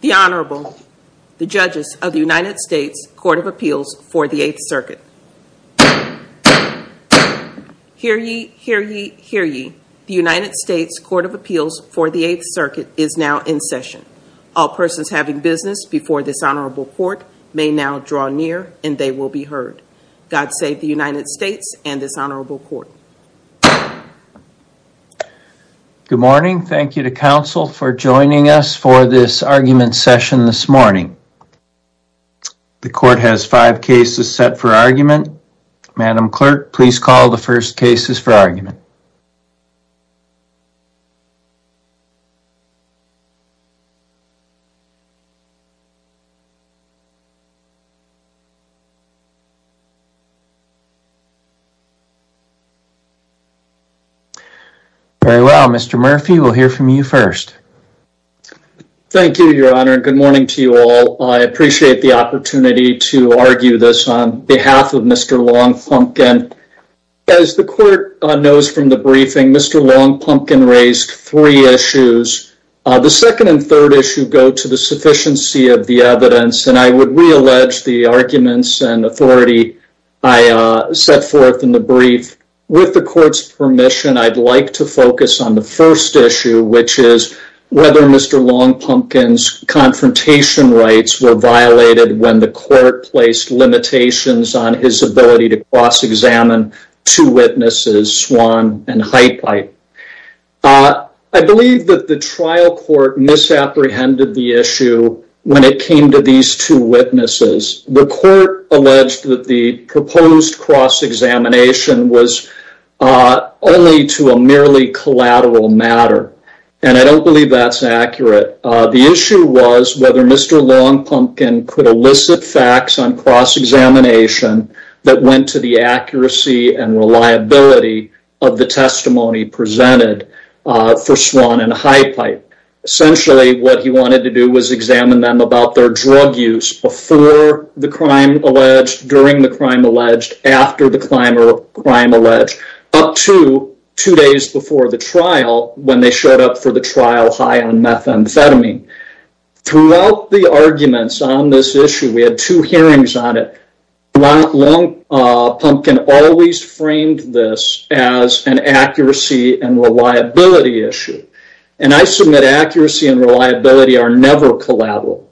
The Honorable, the judges of the United States Court of Appeals for the Eighth Circuit. Hear ye, hear ye, hear ye. The United States Court of Appeals for the Eighth Circuit is now in session. All persons having business before this honorable court may now draw near and they will be heard. God save the United States and this honorable court. Good morning. Thank you to counsel for joining us for this argument session this morning. The court has five cases set for argument. Madam clerk, please call the first cases for argument. Very well, Mr. Murphy, we'll hear from you first. Thank you, your honor. Good morning to you all. I appreciate the opportunity to argue this on behalf of Mr. Long Pumpkin. As the court knows from the briefing, Mr. Long Pumpkin raised three issues. The second and third issue go to the sufficiency of the evidence and I would re-allege the arguments and authority I set forth in the brief. With the court's permission, I'd like to focus on the first issue, which is whether Mr. Long Pumpkin's confrontation rights were violated when the court placed limitations on his ability to cross-examine two witnesses, Swan and Heitheit. I believe that the trial court misapprehended the issue when it came to these two witnesses. The court alleged that the proposed cross-examination was only to a merely collateral matter and I don't believe that's accurate. The issue was whether Mr. Long Pumpkin could elicit facts on cross-examination that went to the accuracy and reliability of the testimony presented for Swan and Heitheit. Essentially what he wanted to do was examine them about their drug use before the crime alleged, during the crime alleged, after the crime alleged, up to two days before the trial when they showed up for the trial high on methamphetamine. Throughout the arguments on this issue, we had two hearings on it, Long Pumpkin always framed this as an accuracy and reliability issue and I submit accuracy and reliability are never collateral.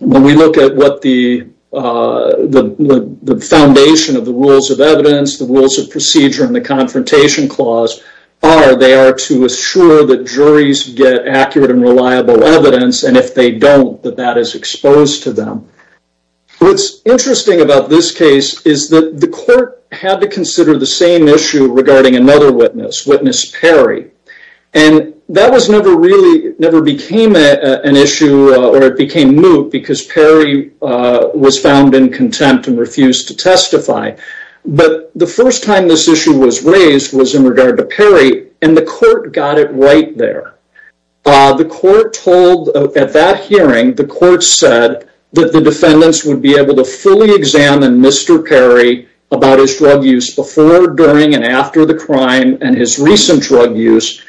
When we look at what the foundation of the rules of evidence, the rules of procedure, and the confrontation clause are, they are to assure that juries get accurate and reliable evidence and if they don't that that is exposed to them. What's interesting about this case is that the court had to consider the same issue regarding another witness, witness Perry, and that was never really never became an issue or it became moot because Perry was found in contempt and refused to testify. But the first time this issue was raised was in regard to Perry and the court got it right there. The court told at that hearing, the court said that the defendants would be able to fully examine Mr. Perry about his drug use before, during, and after the crime and his recent drug use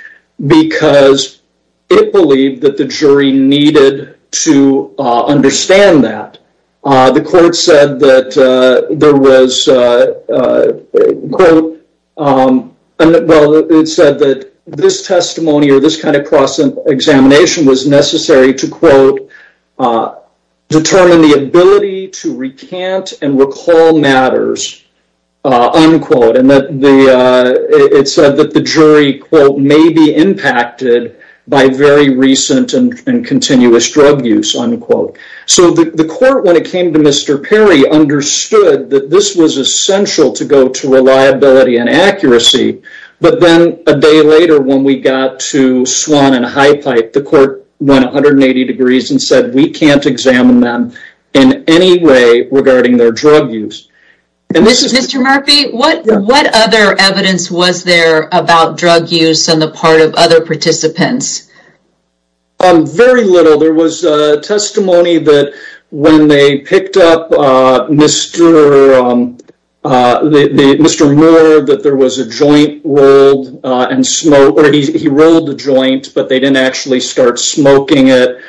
because it believed that the jury needed to understand that. The court said that there was quote, well it said that this testimony or this kind of cross examination was necessary to quote determine the ability to recant and recall matters, unquote, and that the it said that the jury quote may be impacted by very recent and continuous drug use, unquote. So the court when it came to Mr. Perry understood that this was essential to go to reliability and accuracy but then a day later when we got to Swan and High Pipe, the court went 180 degrees and said we can't examine them in any way regarding their drug use. Mr. Murphy, what what other evidence was there about drug use on the part of other participants? Very little. There was a testimony that when they he rolled the joint but they didn't actually start smoking it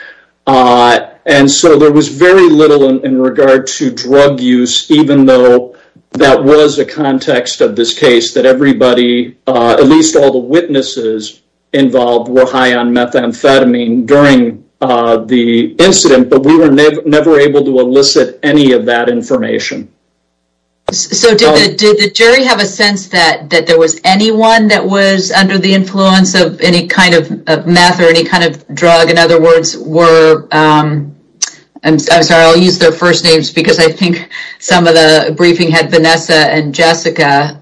and so there was very little in regard to drug use even though that was a context of this case that everybody, at least all the witnesses involved, were high on methamphetamine during the incident but we were never able to elicit any of that information. So did the jury have a sense that that there was anyone that was under the influence of any kind of meth or any kind of drug, in other words, were, I'm sorry I'll use their first names because I think some of the briefing had Vanessa and Jessica,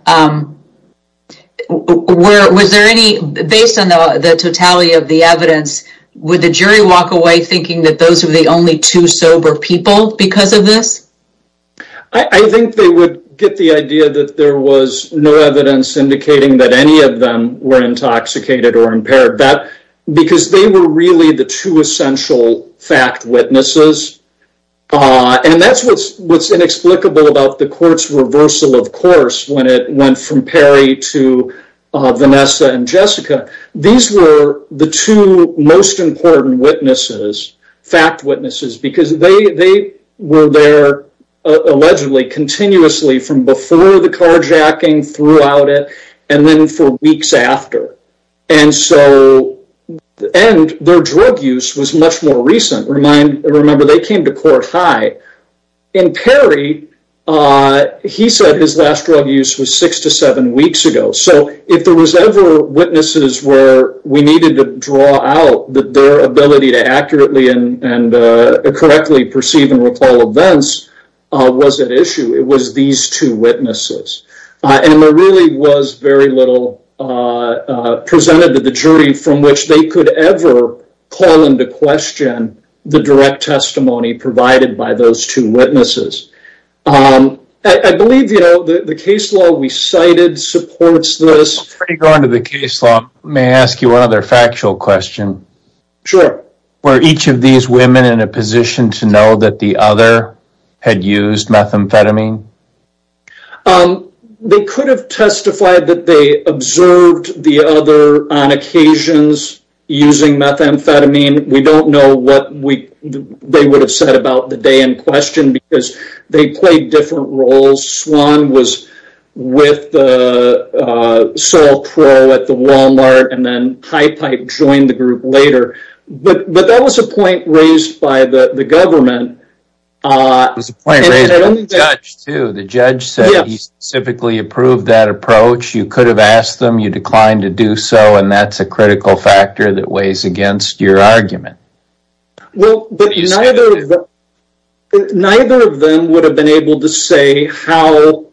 were, was there any, based on the totality of the evidence, would the jury walk away thinking that those were the only two sober people because of this? I think they would get the idea that there was no evidence indicating that any of them were intoxicated or impaired that because they were really the two essential fact witnesses and that's what's what's inexplicable about the court's reversal of course when it went from Perry to Vanessa and Jessica. These were the two most important witnesses, fact witnesses, because they they were there allegedly continuously from before the carjacking throughout it and then for weeks after and so and their drug use was much more recent. Remember they came to court high. In Perry, he said his last drug use was six to seven weeks ago so if there was ever witnesses where we needed to draw out that their ability to accurately and and correctly perceive and recall events was at issue, it was these two witnesses and there really was very little presented to the jury from which they could ever call into question the direct testimony provided by those witnesses. I believe you know the the case law we cited supports this. Before you go into the case law, may I ask you one other factual question? Sure. Were each of these women in a position to know that the other had used methamphetamine? They could have testified that they observed the other on occasions using methamphetamine. We don't know what they would have said about the in question because they played different roles. Swan was with the Sol Pro at the Walmart and then High Pipe joined the group later, but that was a point raised by the the government. The judge said he specifically approved that approach. You could have asked them. You declined to do so and that's a critical factor that weighs against your argument. Well, but neither of them would have been able to say how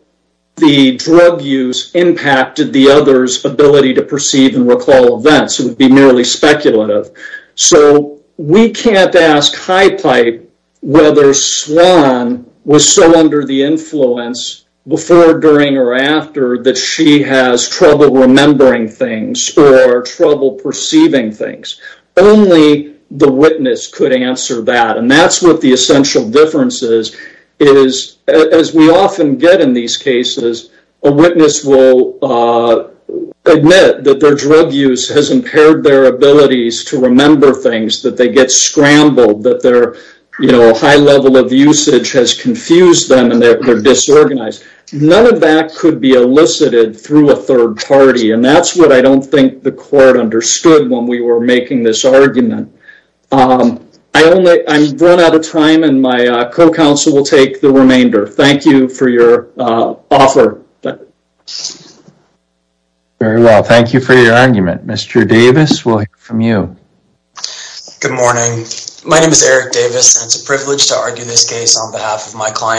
the drug use impacted the other's ability to perceive and recall events. It would be merely speculative. So we can't ask High Pipe whether Swan was so under the influence before, during, or after that she has trouble remembering things or trouble perceiving things. Only the witness could answer that and that's what the essential difference is. As we often get in these cases, a witness will admit that their drug use has impaired their abilities to remember things, that they get scrambled, that their high level of usage has confused them and they're disorganized. None of that could be elicited through a third party and that's what I don't think the court understood when we were making this argument. I've run out of time and my co-counsel will take the remainder. Thank you for your offer. Very well, thank you for your argument. Mr. Davis, we'll hear from you. Good morning. My name is Eric Davis and it's a privilege to argue this case on behalf of my court.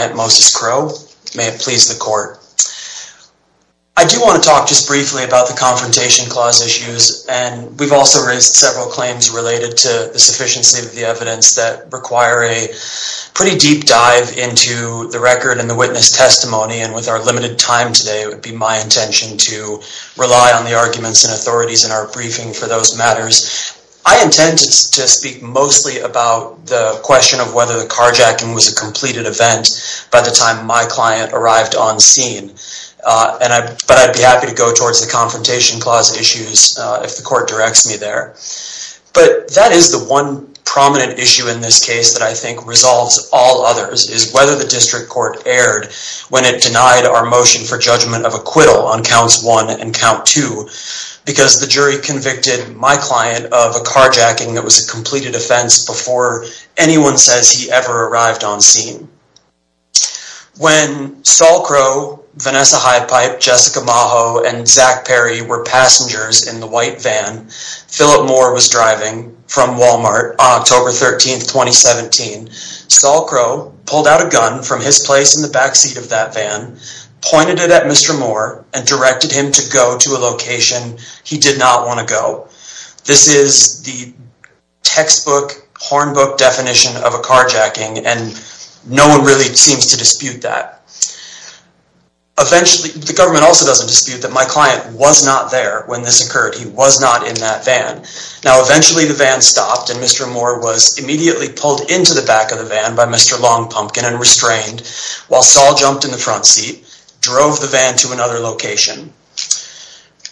I do want to talk just briefly about the Confrontation Clause issues and we've also raised several claims related to the sufficiency of the evidence that require a pretty deep dive into the record and the witness testimony and with our limited time today it would be my intention to rely on the arguments and authorities in our briefing for those matters. I intend to speak mostly about the question of whether the carjacking was a completed event by the time my client arrived on scene but I'd be happy to go towards the Confrontation Clause issues if the court directs me there. But that is the one prominent issue in this case that I think resolves all others is whether the district court erred when it denied our motion for judgment of acquittal on counts one and count two because the jury convicted my client of a carjacking that was a completed offense before anyone says he ever arrived on scene. When Saul Crow, Vanessa Hydepipe, Jessica Maho, and Zach Perry were passengers in the white van Philip Moore was driving from Walmart on October 13, 2017, Saul Crow pulled out a gun from his place in the back seat of that van, pointed it at Mr. Moore, and directed him to go to a location he did not want to go. This is the textbook hornbook definition of a carjacking and no one really seems to dispute that. Eventually the government also doesn't dispute that my client was not there when this occurred. He was not in that van. Now eventually the van stopped and Mr. Moore was immediately pulled into the back of the van by Mr. Longpumpkin and restrained while Saul jumped in the front seat, drove the van to another location.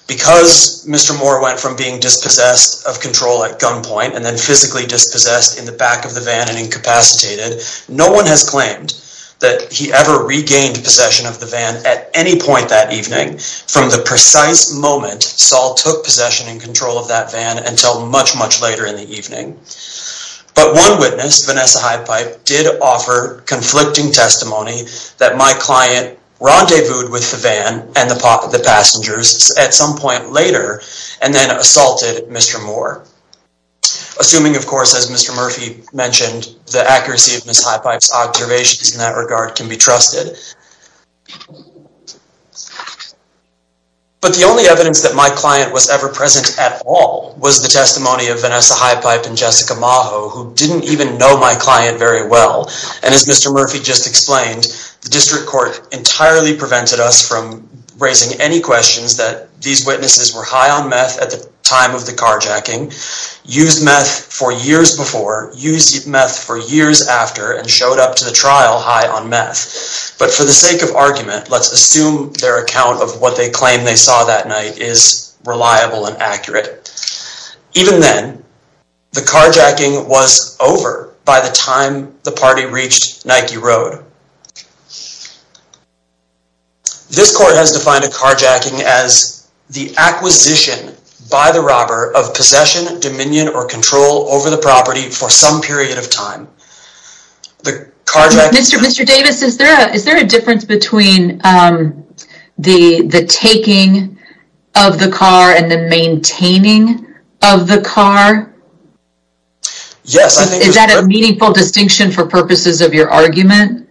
Because Mr. Moore went from being dispossessed of control at gunpoint and then physically dispossessed in the back of the van and incapacitated, no one has claimed that he ever regained possession of the van at any point that evening from the precise moment Saul took possession and control of that van until much much later in the rendezvous with the van and the passengers at some point later and then assaulted Mr. Moore. Assuming of course as Mr. Murphy mentioned the accuracy of Ms. Highpipe's observations in that regard can be trusted. But the only evidence that my client was ever present at all was the testimony of Vanessa Highpipe and Jessica Maho who didn't even know my client very well and as Mr. Court entirely prevented us from raising any questions that these witnesses were high on meth at the time of the carjacking, used meth for years before, used meth for years after and showed up to the trial high on meth. But for the sake of argument let's assume their account of what they claim they saw that night is reliable and accurate. Even then the carjacking was over by the time the this court has defined a carjacking as the acquisition by the robber of possession, dominion or control over the property for some period of time. The carjacking... Mr. Davis, is there a difference between the taking of the car and the maintaining of the car? Yes, I think... Is that a meaningful distinction for purposes of your argument?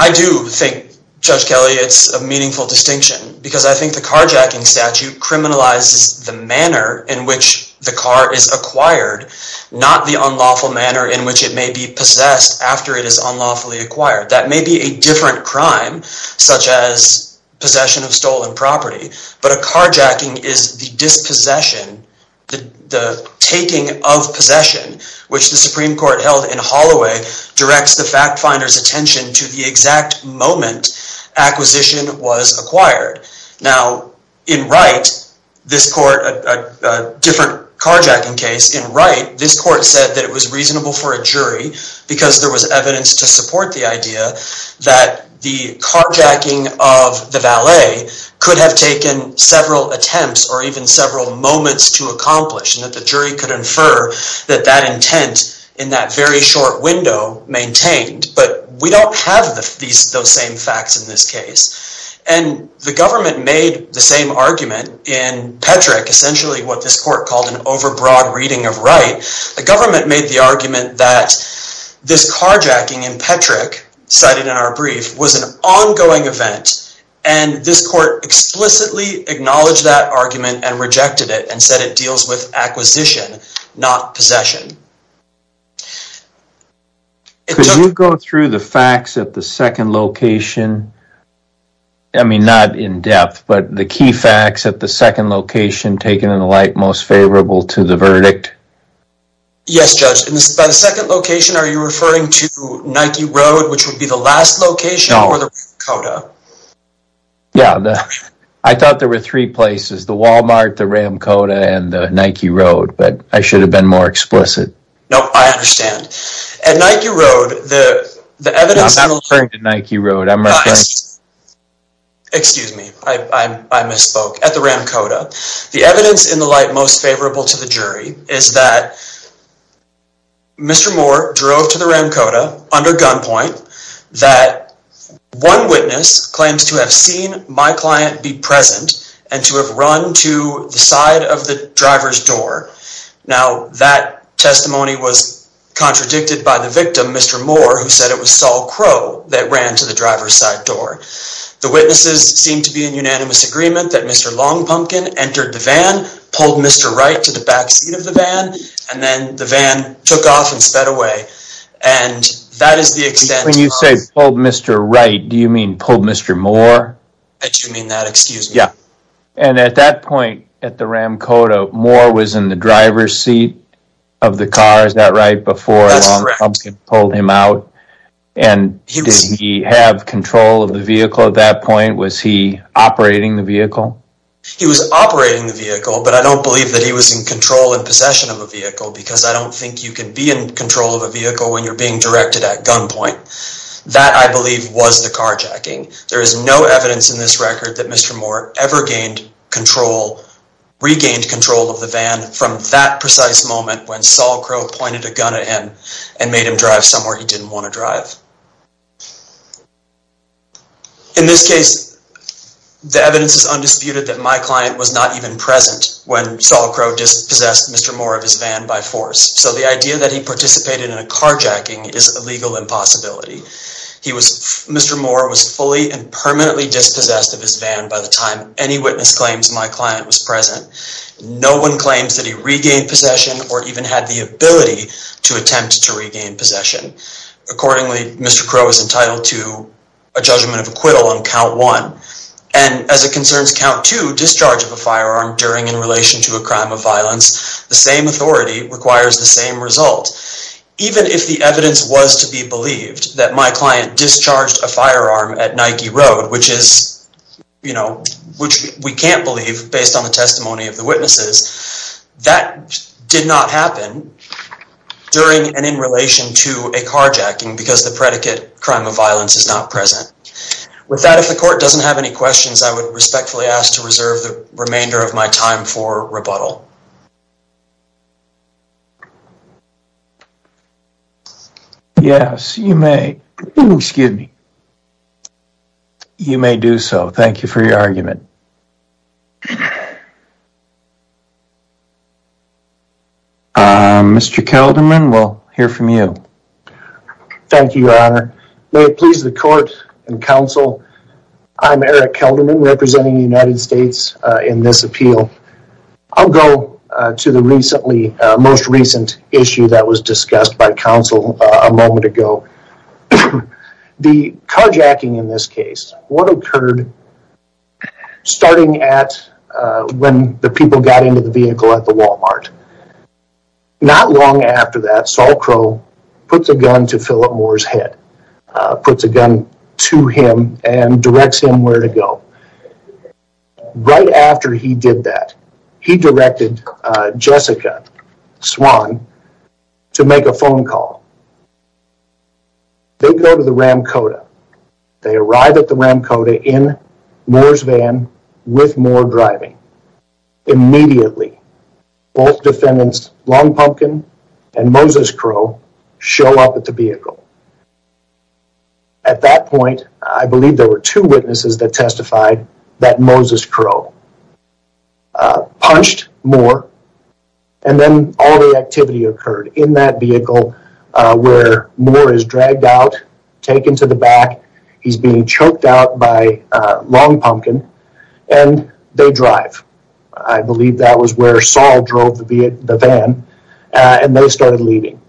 I do think, Judge Kelly, it's a meaningful distinction because I think the carjacking statute criminalizes the manner in which the car is acquired, not the unlawful manner in which it may be possessed after it is unlawfully acquired. That may be a different crime such as possession of stolen property, but a carjacking is the dispossession, the taking of possession, which the Supreme Court held in Holloway directs the fact finder's attention to the exact moment acquisition was acquired. Now, in Wright, this court, a different carjacking case in Wright, this court said that it was reasonable for a jury because there was evidence to support the idea that the carjacking of the valet could have taken several attempts or even several moments to attempt in that very short window maintained, but we don't have those same facts in this case. And the government made the same argument in Petrick, essentially what this court called an overbroad reading of Wright. The government made the argument that this carjacking in Petrick, cited in our brief, was an ongoing event and this court explicitly acknowledged that argument and it took... Could you go through the facts at the second location? I mean, not in depth, but the key facts at the second location taken in the light most favorable to the verdict? Yes, Judge. In the second location, are you referring to Nike Road, which would be the last location or the Ramcoda? Yeah, I thought there were three places, the Walmart, the Ramcoda, and the Nike Road, but I should have been more explicit. No, I understand. At Nike Road, the evidence... I'm not referring to Nike Road. Excuse me, I misspoke. At the Ramcoda, the evidence in the light most favorable to the jury is that Mr. Moore drove to the Ramcoda under gunpoint, that one witness claims to have seen my client be present and to have run to the side of the driver's door. Now, that testimony was contradicted by the victim, Mr. Moore, who said it was Saul Crowe that ran to the driver's side door. The witnesses seem to be in unanimous agreement that Mr. Longpumpkin entered the van, pulled Mr. Wright to the back seat of the van, and then the van took off and sped away, and that is the extent... When you say pulled Mr. Wright, do you mean pulled Mr. Moore? I do mean that, excuse me. Yeah, and at that point at the Ramcoda, Moore was in the driver's seat of the car, is that right, before Longpumpkin pulled him out, and did he have control of the vehicle at that point? Was he operating the vehicle? He was operating the vehicle, but I don't believe that he was in control and possession of a vehicle, because I don't think you can be in control of a vehicle when you're being directed at gunpoint. That, I believe, was the carjacking. There is no evidence in this record that Mr. Moore ever regained control of the van from that precise moment when Saul Crowe pointed a gun at him and made him drive somewhere he didn't want to drive. In this case, the evidence is undisputed that my client was not even present when Saul Crowe dispossessed Mr. Moore of his van by force, so the idea that he participated in a carjacking is a legal impossibility. Mr. Moore was fully and permanently dispossessed of his van by the time any witness claims my client was present. No one claims that he regained possession or even had the ability to attempt to regain possession. Accordingly, Mr. Crowe is entitled to a judgment of acquittal on count one, and as it concerns count two, discharge of a crime of violence, the same authority requires the same result. Even if the evidence was to be believed that my client discharged a firearm at Nike Road, which we can't believe based on the testimony of the witnesses, that did not happen during and in relation to a carjacking because the predicate crime of violence is not present. With that, if the court doesn't have any questions, I would respectfully ask to reserve the remainder of my time for rebuttal. Yes, you may. Excuse me. You may do so. Thank you for your argument. Mr. Kelderman, we'll hear from you. Thank you, Your Honor. May it please the court and counsel, I'm Eric Kelderman, representing the United States in this appeal. I'll go to the most recent issue that was discussed by counsel a moment ago. The carjacking in this case, what occurred starting at when the people got into the vehicle at the Walmart. Not long after that, Saul Crowe puts a gun to Phillip Moore's head, puts a gun to him and directs him where to go. Right after he did that, he directed Jessica Swan to make a phone call. They go to the Ram Coda. They arrive at the Ram Coda in Moore driving. Immediately, both defendants, Long Pumpkin and Moses Crowe, show up at the vehicle. At that point, I believe there were two witnesses that testified that Moses Crowe punched Moore and then all the activity occurred in that vehicle where Moore is dragged out, taken to the back. He's being choked out by Long Pumpkin and they drive. I believe that was where Saul drove the van and they started leaving.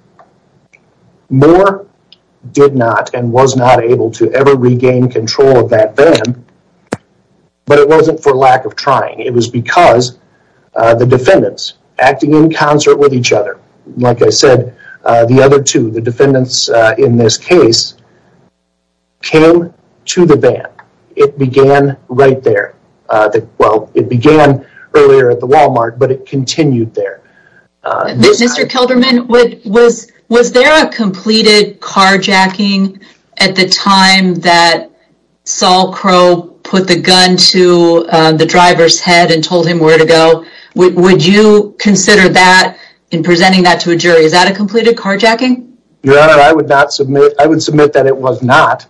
Moore did not and was not able to ever regain control of that van, but it wasn't for lack of trying. It was because the defendants acting in concert with each other. Like I said, the other two, the defendants in this case, came to the van. It began right there. Well, it began earlier at the Walmart, but it continued there. Mr. Kilderman, was there a completed carjacking at the time that Saul Crowe put the gun to the driver's head and told him where to go? Would you consider that in presenting that to a jury? Is that a completed carjacking? Your Honor, I would submit that it was not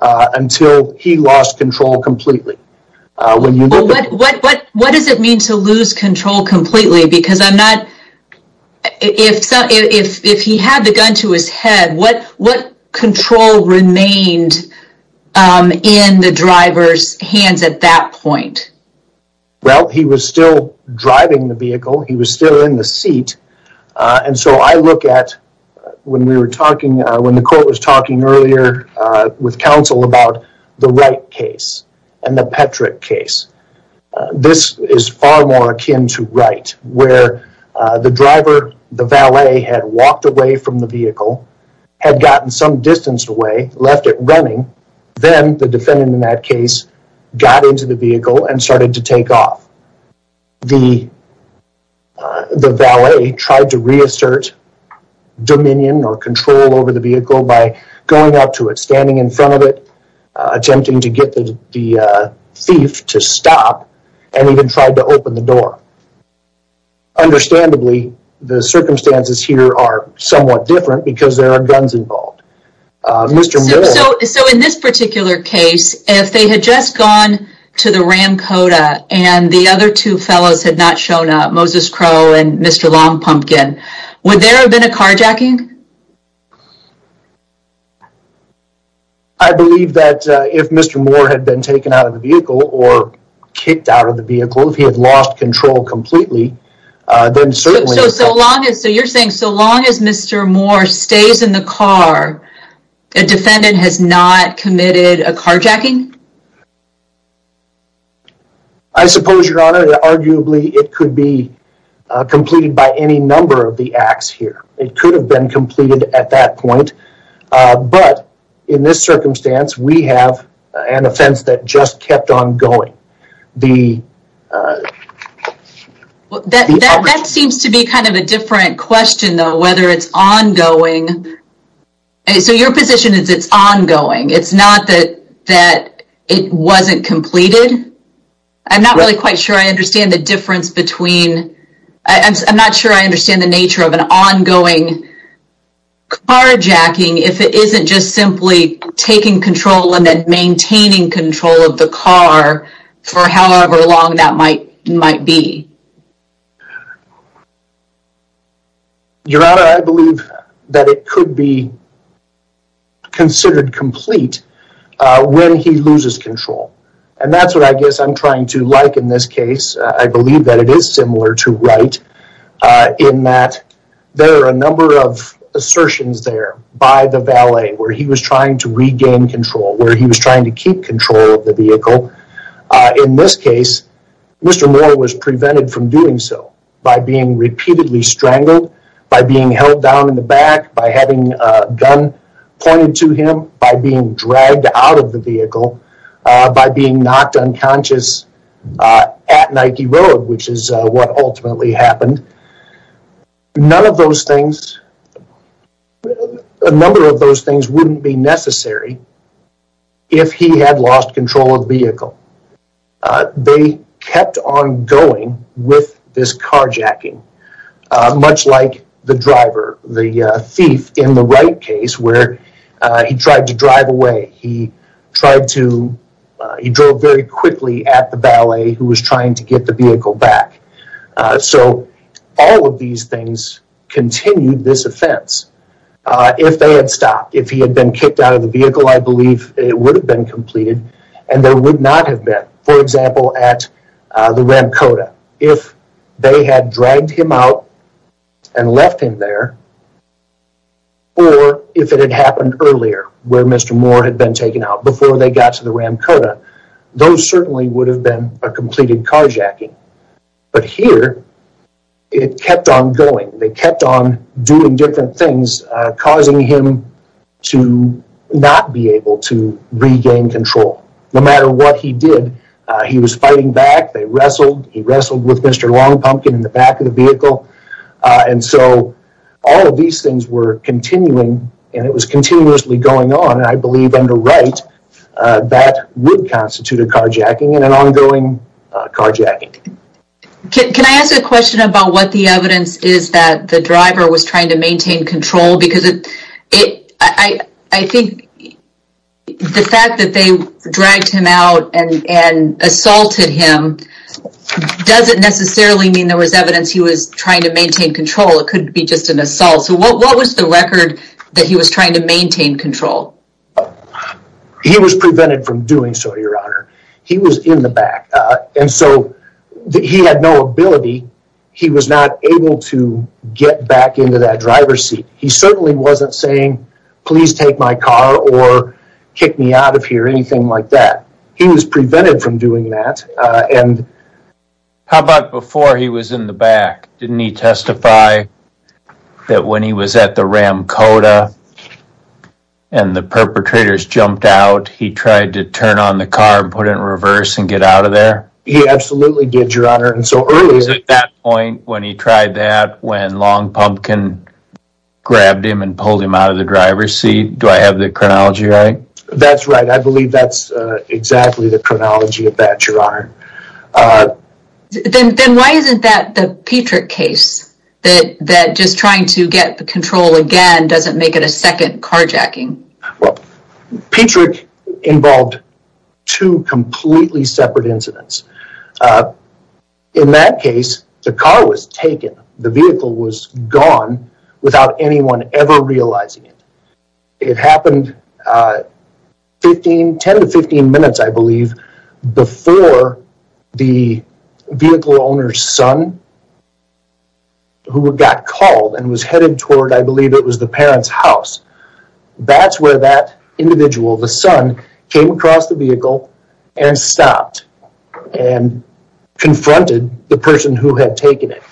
until he lost control completely. What does it mean to lose control completely? Because if he had the gun to his head, what control remained in the driver's hands at that point? Well, he was still driving the vehicle. He was still in the seat. And so I look at when the court was talking earlier with counsel about the Wright case and the Petrick case. This is far more akin to Wright, where the driver, the valet, had walked away from the vehicle, had gotten some distance away, left it running. Then the defendant in that case got into the vehicle and started to take off. The valet tried to reassert dominion or control over the vehicle by going up to it, standing in front of it, attempting to get the thief to stop, and even tried to open the door. Understandably, the circumstances here are somewhat different because there are guns involved. So in this particular case, if they had just gone to the Ram Coda and the other two fellows had not shown up, Moses Crowe and Mr. Lompomkin, would there have been a carjacking? I believe that if Mr. Moore had been taken out of the vehicle or kicked out of the vehicle, if he had lost control completely, then certainly... So you're saying so long as Mr. Moore stays in the car, a defendant has not committed a carjacking? I suppose, Your Honor, that arguably it could be completed by any number of the acts here. It could have been completed at that point. But in this circumstance, we have an offense that just kept on going. That seems to be kind of a different question, though, whether it's ongoing. So your position is it's ongoing? It's not that it wasn't completed? I'm not really quite sure I understand the difference between... ongoing carjacking, if it isn't just simply taking control and then maintaining control of the car for however long that might be. Your Honor, I believe that it could be considered complete when he loses control. And that's what I guess I'm trying to like in this case. I believe that it is similar to Wright in that there are a number of assertions there by the valet where he was trying to regain control, where he was trying to keep control of the vehicle. In this case, Mr. Moore was prevented from doing so by being repeatedly strangled, by being held down in the back, by having a gun pointed to him, by being dragged out of the vehicle, by being knocked unconscious at Nike Road, which is what ultimately happened. None of those things, a number of those things wouldn't be necessary if he had lost control of the vehicle. They kept on going with this carjacking, much like the driver, the thief in the Wright case where he tried to drive away. He tried to, he drove very quickly at the valet who was trying to get the vehicle back. So all of these things continued this offense. If they had stopped, if he had been kicked out of the vehicle, I believe it would have been completed and there would not have been. For example, at the Ramcoda, if they had dragged him out and left him there, or if it had happened earlier where Mr. Moore had been taken out, before they got to the Ramcoda, those certainly would have been a completed carjacking. But here, it kept on going. They kept on doing different things, causing him to not be able to regain control. No matter what he did, he was fighting back. They wrestled. He wrestled with Mr. Long Pumpkin in the back of the vehicle. And so all of these things were continuing and it was continuously going on. And I believe under Wright, that would constitute a carjacking and an ongoing carjacking. Can I ask a question about what the evidence is that the driver was trying to maintain control? Because I think the fact that they dragged him out and assaulted him doesn't necessarily mean there was evidence he was trying to maintain control. It could be just an assault. So what was the record that he was trying to maintain control? He was prevented from doing so, Your Honor. He was in the back. And so he had no ability. He was not able to get back into that driver's seat. He certainly wasn't saying, please take my car or kick me out of here, anything like that. He was prevented from doing that. And how about before he was in the back? Didn't he testify that when he was at the Ram Coda and the perpetrators jumped out, he tried to turn on the car and put it in reverse and get out of there? He absolutely did, Your Honor. And so earlier at that point when he tried that, when Long Pumpkin grabbed him and pulled him out of the driver's seat. Do I have the chronology right? That's right. I believe that's exactly the chronology of that, Your Honor. Then why isn't that the Petrick case? That just trying to get the control again doesn't make it a second carjacking? Well, Petrick involved two completely separate incidents. In that case, the car was taken. The vehicle was gone without anyone ever realizing it. It happened 10 to 15 minutes, I believe, before the vehicle owner's son who got called and was headed toward, I believe it was the parent's house. That's where that individual, the son, came across the vehicle and stopped and confronted the person who had taken it.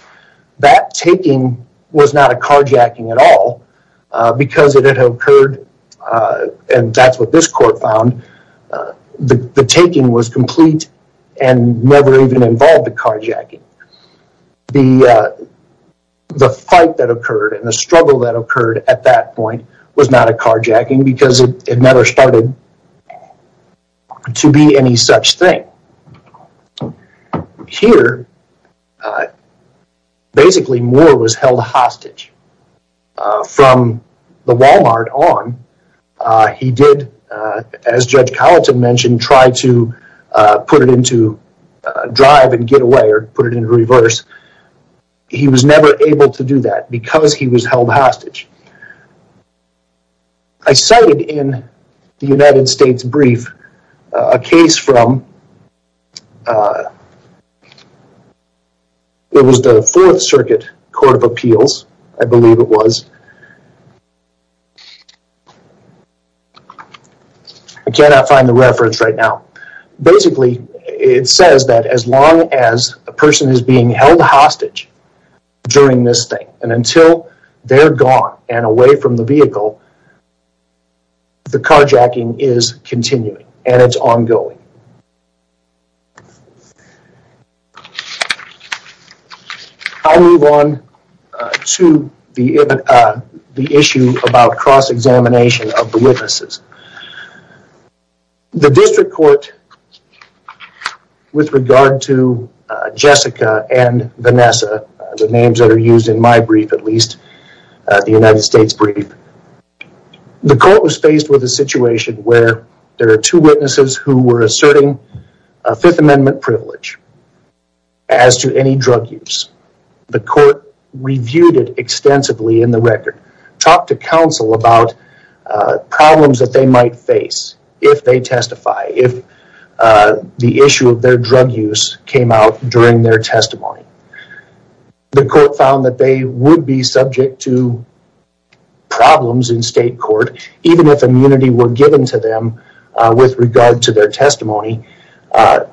That taking was not a carjacking at all because it had occurred, and that's what this court found, the taking was complete and never even involved a carjacking. The fight that occurred and the struggle that occurred at that point was not a carjacking because it never started to be any such thing. Now, here, basically, Moore was held hostage. From the Walmart on, he did, as Judge Colleton mentioned, try to put it into drive and get away or put it into reverse. He was never able to do that because he was held hostage. I cited in the United States brief a case from it was the Fourth Circuit Court of Appeals, I believe it was. I cannot find the reference right now. Basically, it says that as long as a person is being held hostage during this thing and until they're gone and away from the vehicle, the carjacking is continuing and it's ongoing. I'll move on to the issue about cross-examination of the witnesses. The district court, with regard to Jessica and Vanessa, the names that are used in my brief, at least, the United States brief, the court was faced with a situation where there are two witnesses who were asserting a Fifth Amendment privilege as to any drug use. The court reviewed it extensively in the record, talked to counsel about problems that they might face if they testify, if the issue of their drug use came out during their testimony. The court found that they would be subject to problems in state court, even if immunity were given to them with regard to their testimony.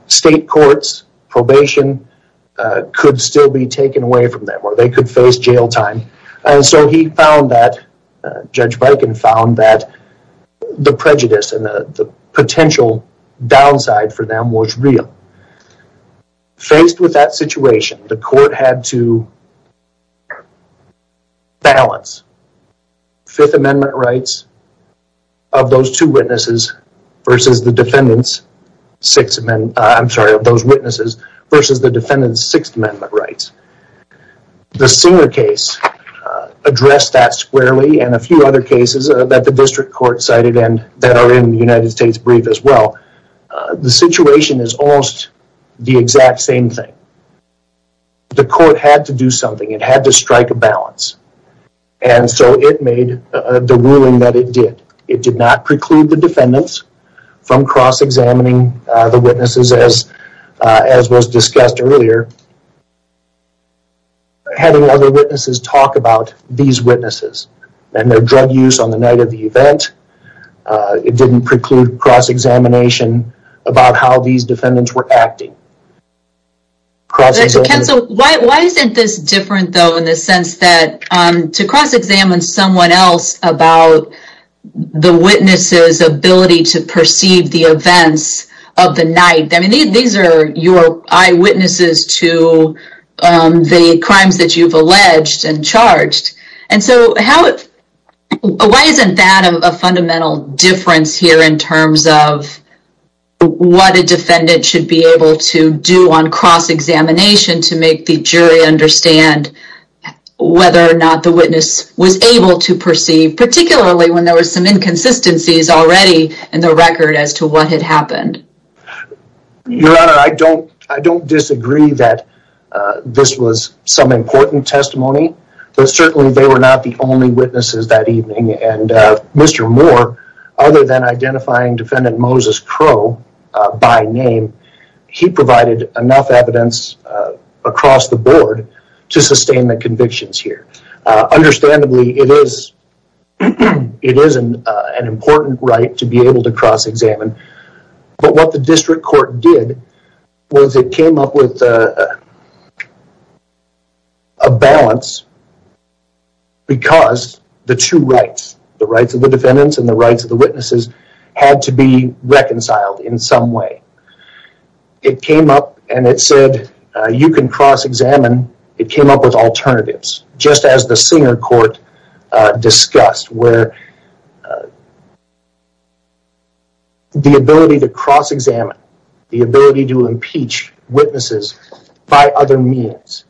State courts, probation could still be taken away from them or they could face jail time. He found that, Judge Bikin found that the prejudice and the potential downside for them was real. Faced with that situation, the court had to balance Fifth Amendment rights of those two witnesses versus the defendant's Sixth Amendment, I'm sorry, of those witnesses versus the defendant's Sixth Amendment rights. The Singer case addressed that squarely and a few other cases that the district court cited and that are in the United States brief as well. The situation is almost the exact same thing. The court had to do something, it had to strike a balance. And so it made the ruling that it did. It did not preclude the defendants from cross-examining the witnesses as was discussed earlier. Having other witnesses talk about these witnesses and their drug use on the night of the event, it didn't preclude cross-examination about how these defendants were acting. Why isn't this different though in the sense that to cross-examine someone else about the witness's ability to perceive the events of the night? I mean, these are your eyewitnesses to the crimes that you've alleged and charged. And so why isn't that a fundamental difference here in terms of what a defendant should be able to do on cross-examination to make the jury understand whether or not the witness was able to perceive, particularly when there were some inconsistencies already in the record as to what had happened? Your Honor, I don't disagree that this was some important testimony. But certainly they were not the only witnesses that evening. And Mr. Moore, other than identifying defendant Moses Crowe by name, he provided enough evidence across the board to sustain the convictions here. Understandably, it is an important right to be able to cross-examine. But what the district court did was it came up with a balance because the two rights, the rights of the defendants and the rights of the witnesses, had to be reconciled in some way. It came up and it said, you can cross-examine. It came up with alternatives, just as the Singer Court discussed where the ability to cross-examine, the ability to impeach witnesses by other means.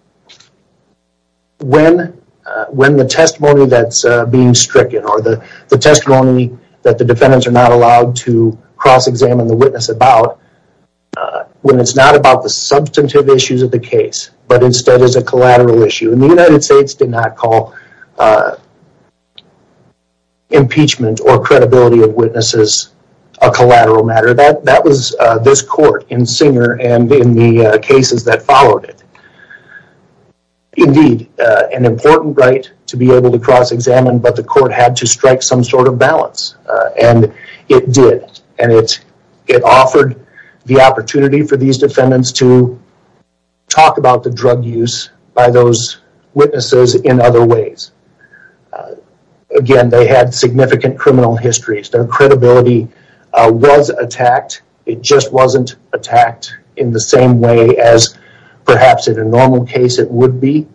When the testimony that's being stricken or the testimony that the defendants are not allowed to cross-examine the witness about, when it's not about the substantive issues of the case, but instead is a collateral issue. The United States did not call impeachment or credibility of witnesses a collateral matter. That was this court in Singer and in the cases that followed it. Indeed, an important right to be able to cross-examine, but the court had to strike some sort of balance. And it did. And it offered the opportunity for these defendants to talk about the drug use by those witnesses in other ways. Again, they had significant criminal histories. Their credibility was attacked. It just wasn't attacked in the same way as perhaps in a normal case it would be.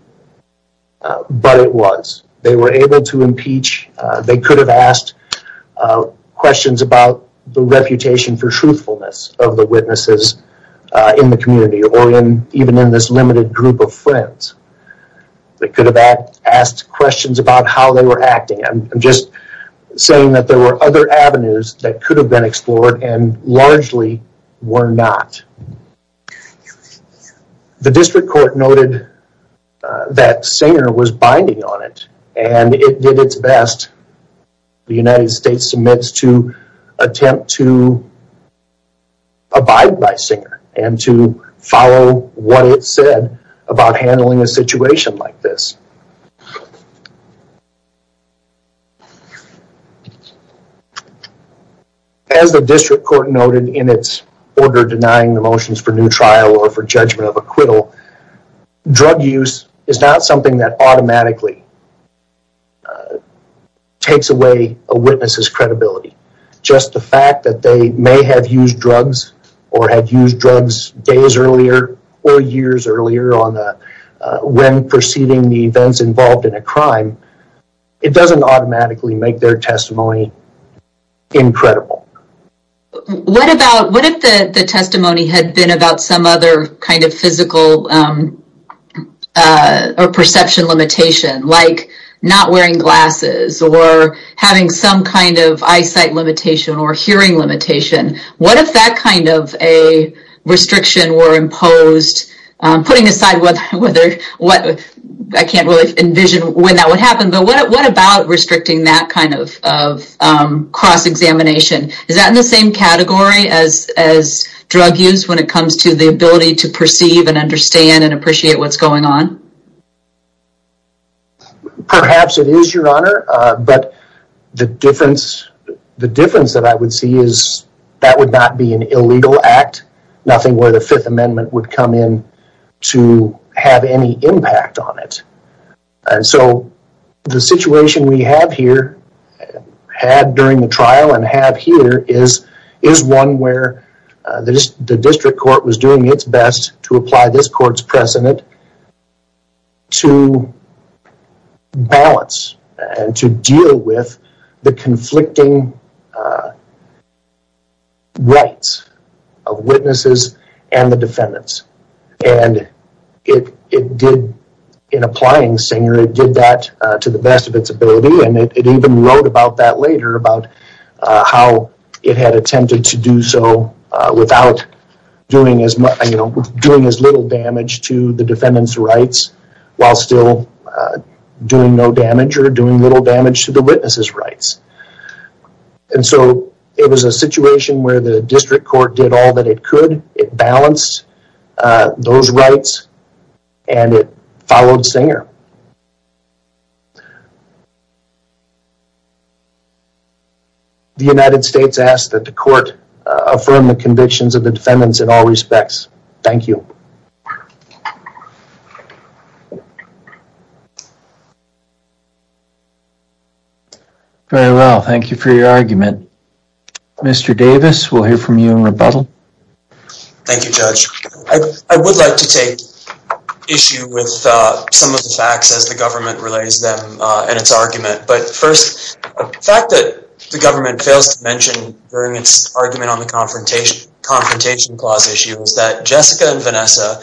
But it was. They were able to impeach. They could have asked questions about the reputation for truthfulness of the witnesses in the community or even in this limited group of friends. They could have asked questions about how they were acting. I'm just saying that there were other avenues that could have been explored and largely were not. The district court noted that Singer was binding on it and it did its best. The United States submits to attempt to abide by Singer and to follow what it said about handling a situation like this. As the district court noted in its order denying the motions for new trial or for judgment of takes away a witness's credibility. Just the fact that they may have used drugs or had used drugs days earlier or years earlier when preceding the events involved in a crime, it doesn't automatically make their testimony incredible. What if the testimony had been about some other kind of physical or perception limitation? Like not wearing glasses or having some kind of eyesight limitation or hearing limitation. What if that kind of a restriction were imposed? Putting aside what I can't really envision when that would happen, but what about restricting that kind of cross-examination? Is that in the same category as drug use when it comes to the ability to perceive and understand and appreciate what's going on? Perhaps it is, your honor. But the difference that I would see is that would not be an illegal act, nothing where the Fifth Amendment would come in to have any impact on it. And so the situation we have here, had during the trial and have here, is one where the district court was doing its best to apply this court's precedent to balance and to deal with the conflicting rights of witnesses and the defendants. And it did, in applying Singer, it did that to the best of its ability. And it even wrote about that later, about how it had attempted to do so without doing as little damage to the defendant's rights, while still doing no damage or doing little damage to the witness's rights. And so it was a situation where the district court did all that it could. It balanced those rights and it followed Singer. And the United States asked that the court affirm the convictions of the defendants in all respects. Thank you. Very well, thank you for your argument. Mr. Davis, we'll hear from you in rebuttal. Thank you, Judge. I would like to take issue with some of the facts as the government relates them and its argument. But first, the fact that the government fails to mention during its argument on the confrontation clause issue is that Jessica and Vanessa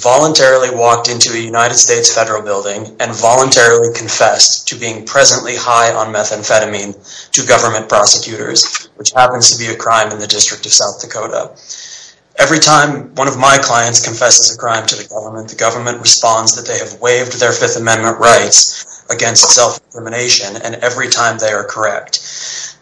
voluntarily walked into a United States federal building and voluntarily confessed to being presently high on methamphetamine to government prosecutors, which happens to be a crime in the District of South Dakota. Every time one of my clients confesses a crime to the government, the government responds that they have waived their Fifth Amendment rights against self-determination. And every time they are correct.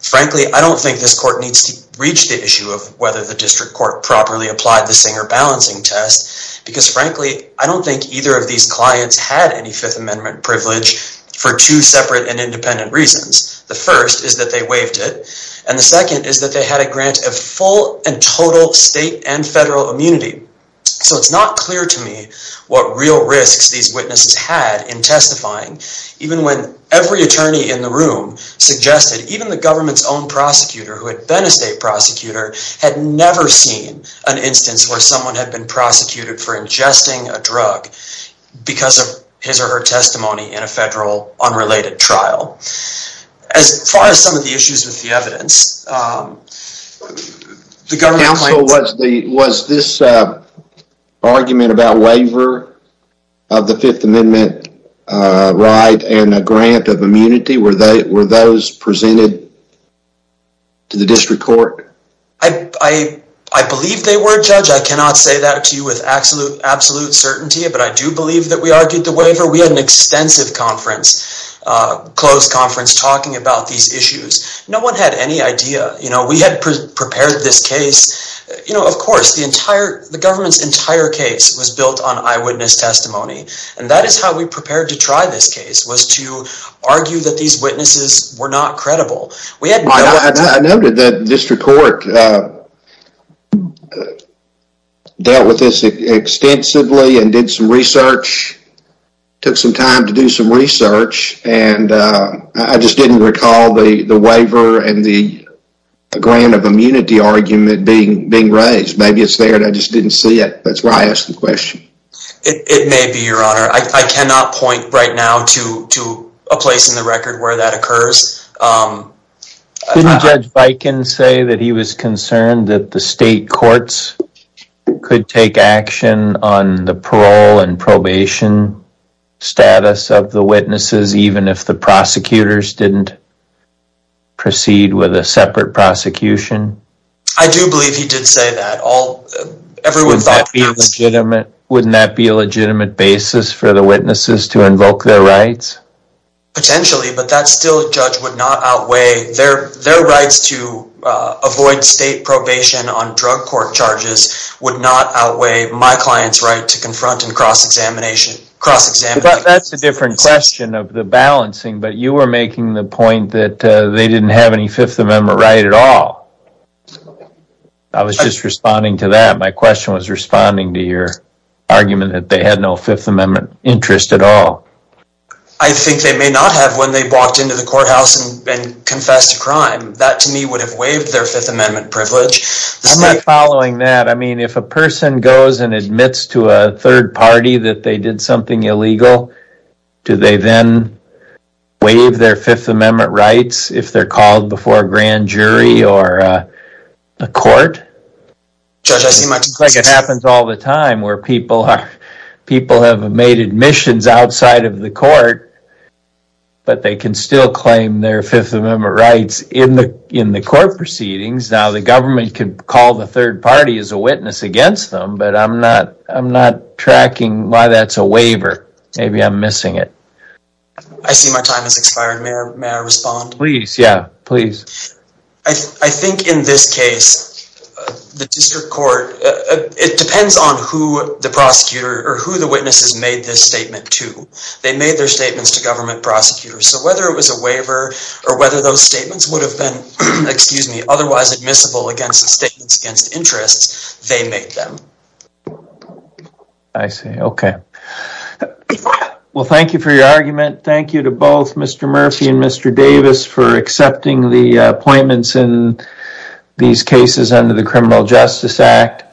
Frankly, I don't think this court needs to reach the issue of whether the district court properly applied the Singer balancing test. Because frankly, I don't think either of these clients had any Fifth Amendment privilege for two separate and independent reasons. The first is that they waived it. And the second is that they had a grant of full and total state and federal immunity. So it's not clear to me what real risks these witnesses had in testifying, even when every attorney in the room suggested even the government's own prosecutor who had been a state prosecutor had never seen an instance where someone had been prosecuted for ingesting a drug because of his or her testimony in a federal unrelated trial. As far as some of the issues with the evidence, um, the government claims... Counsel, was this argument about waiver of the Fifth Amendment right and a grant of immunity, were those presented to the district court? I believe they were, Judge. I cannot say that to you with absolute certainty. But I do believe that we argued the waiver. We had an extensive conference, closed conference, talking about these issues. No one had any idea. You know, we had prepared this case. You know, of course, the entire... the government's entire case was built on eyewitness testimony. And that is how we prepared to try this case, was to argue that these witnesses were not credible. We had... I noted that district court dealt with this extensively and did some research, took some time to do some research. And I just didn't recall the waiver and the grant of immunity argument being raised. Maybe it's there and I just didn't see it. That's why I asked the question. It may be, Your Honor. I cannot point right now to a place in the record where that occurs. Didn't Judge Viken say that he was concerned that the state courts could take action on the parole and probation status of the witnesses? Even if the prosecutors didn't proceed with a separate prosecution? I do believe he did say that. Everyone thought... Wouldn't that be a legitimate basis for the witnesses to invoke their rights? Potentially, but that still, Judge, would not outweigh their rights to avoid state probation on drug court charges would not outweigh my client's right to confront and cross-examination. That's a different question of the balancing, but you were making the point that they didn't have any Fifth Amendment right at all. I was just responding to that. My question was responding to your argument that they had no Fifth Amendment interest at all. I think they may not have when they walked into the courthouse and confessed a crime. That, to me, would have waived their Fifth Amendment privilege. I'm not following that. If a person goes and admits to a third party that they did something illegal, do they then waive their Fifth Amendment rights if they're called before a grand jury or a court? It happens all the time where people have made admissions outside of the court, but they can still claim their Fifth Amendment rights in the court proceedings. The government could call the third party as a witness against them, but I'm not tracking why that's a waiver. Maybe I'm missing it. I see my time has expired. May I respond? Please, yeah, please. I think in this case, the district court, it depends on who the prosecutor or who the witnesses made this statement to. They made their statements to government prosecutors, so whether it was a waiver or whether those statements would have been, excuse me, otherwise admissible against the statements against interests, they made them. I see, okay. Well, thank you for your argument. Thank you to both Mr. Murphy and Mr. Davis for accepting the appointments in these cases under the Criminal Justice Act.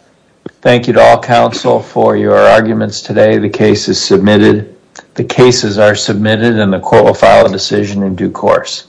Thank you to all counsel for your arguments today. The case is submitted. The cases are submitted and the court will file a decision in due course.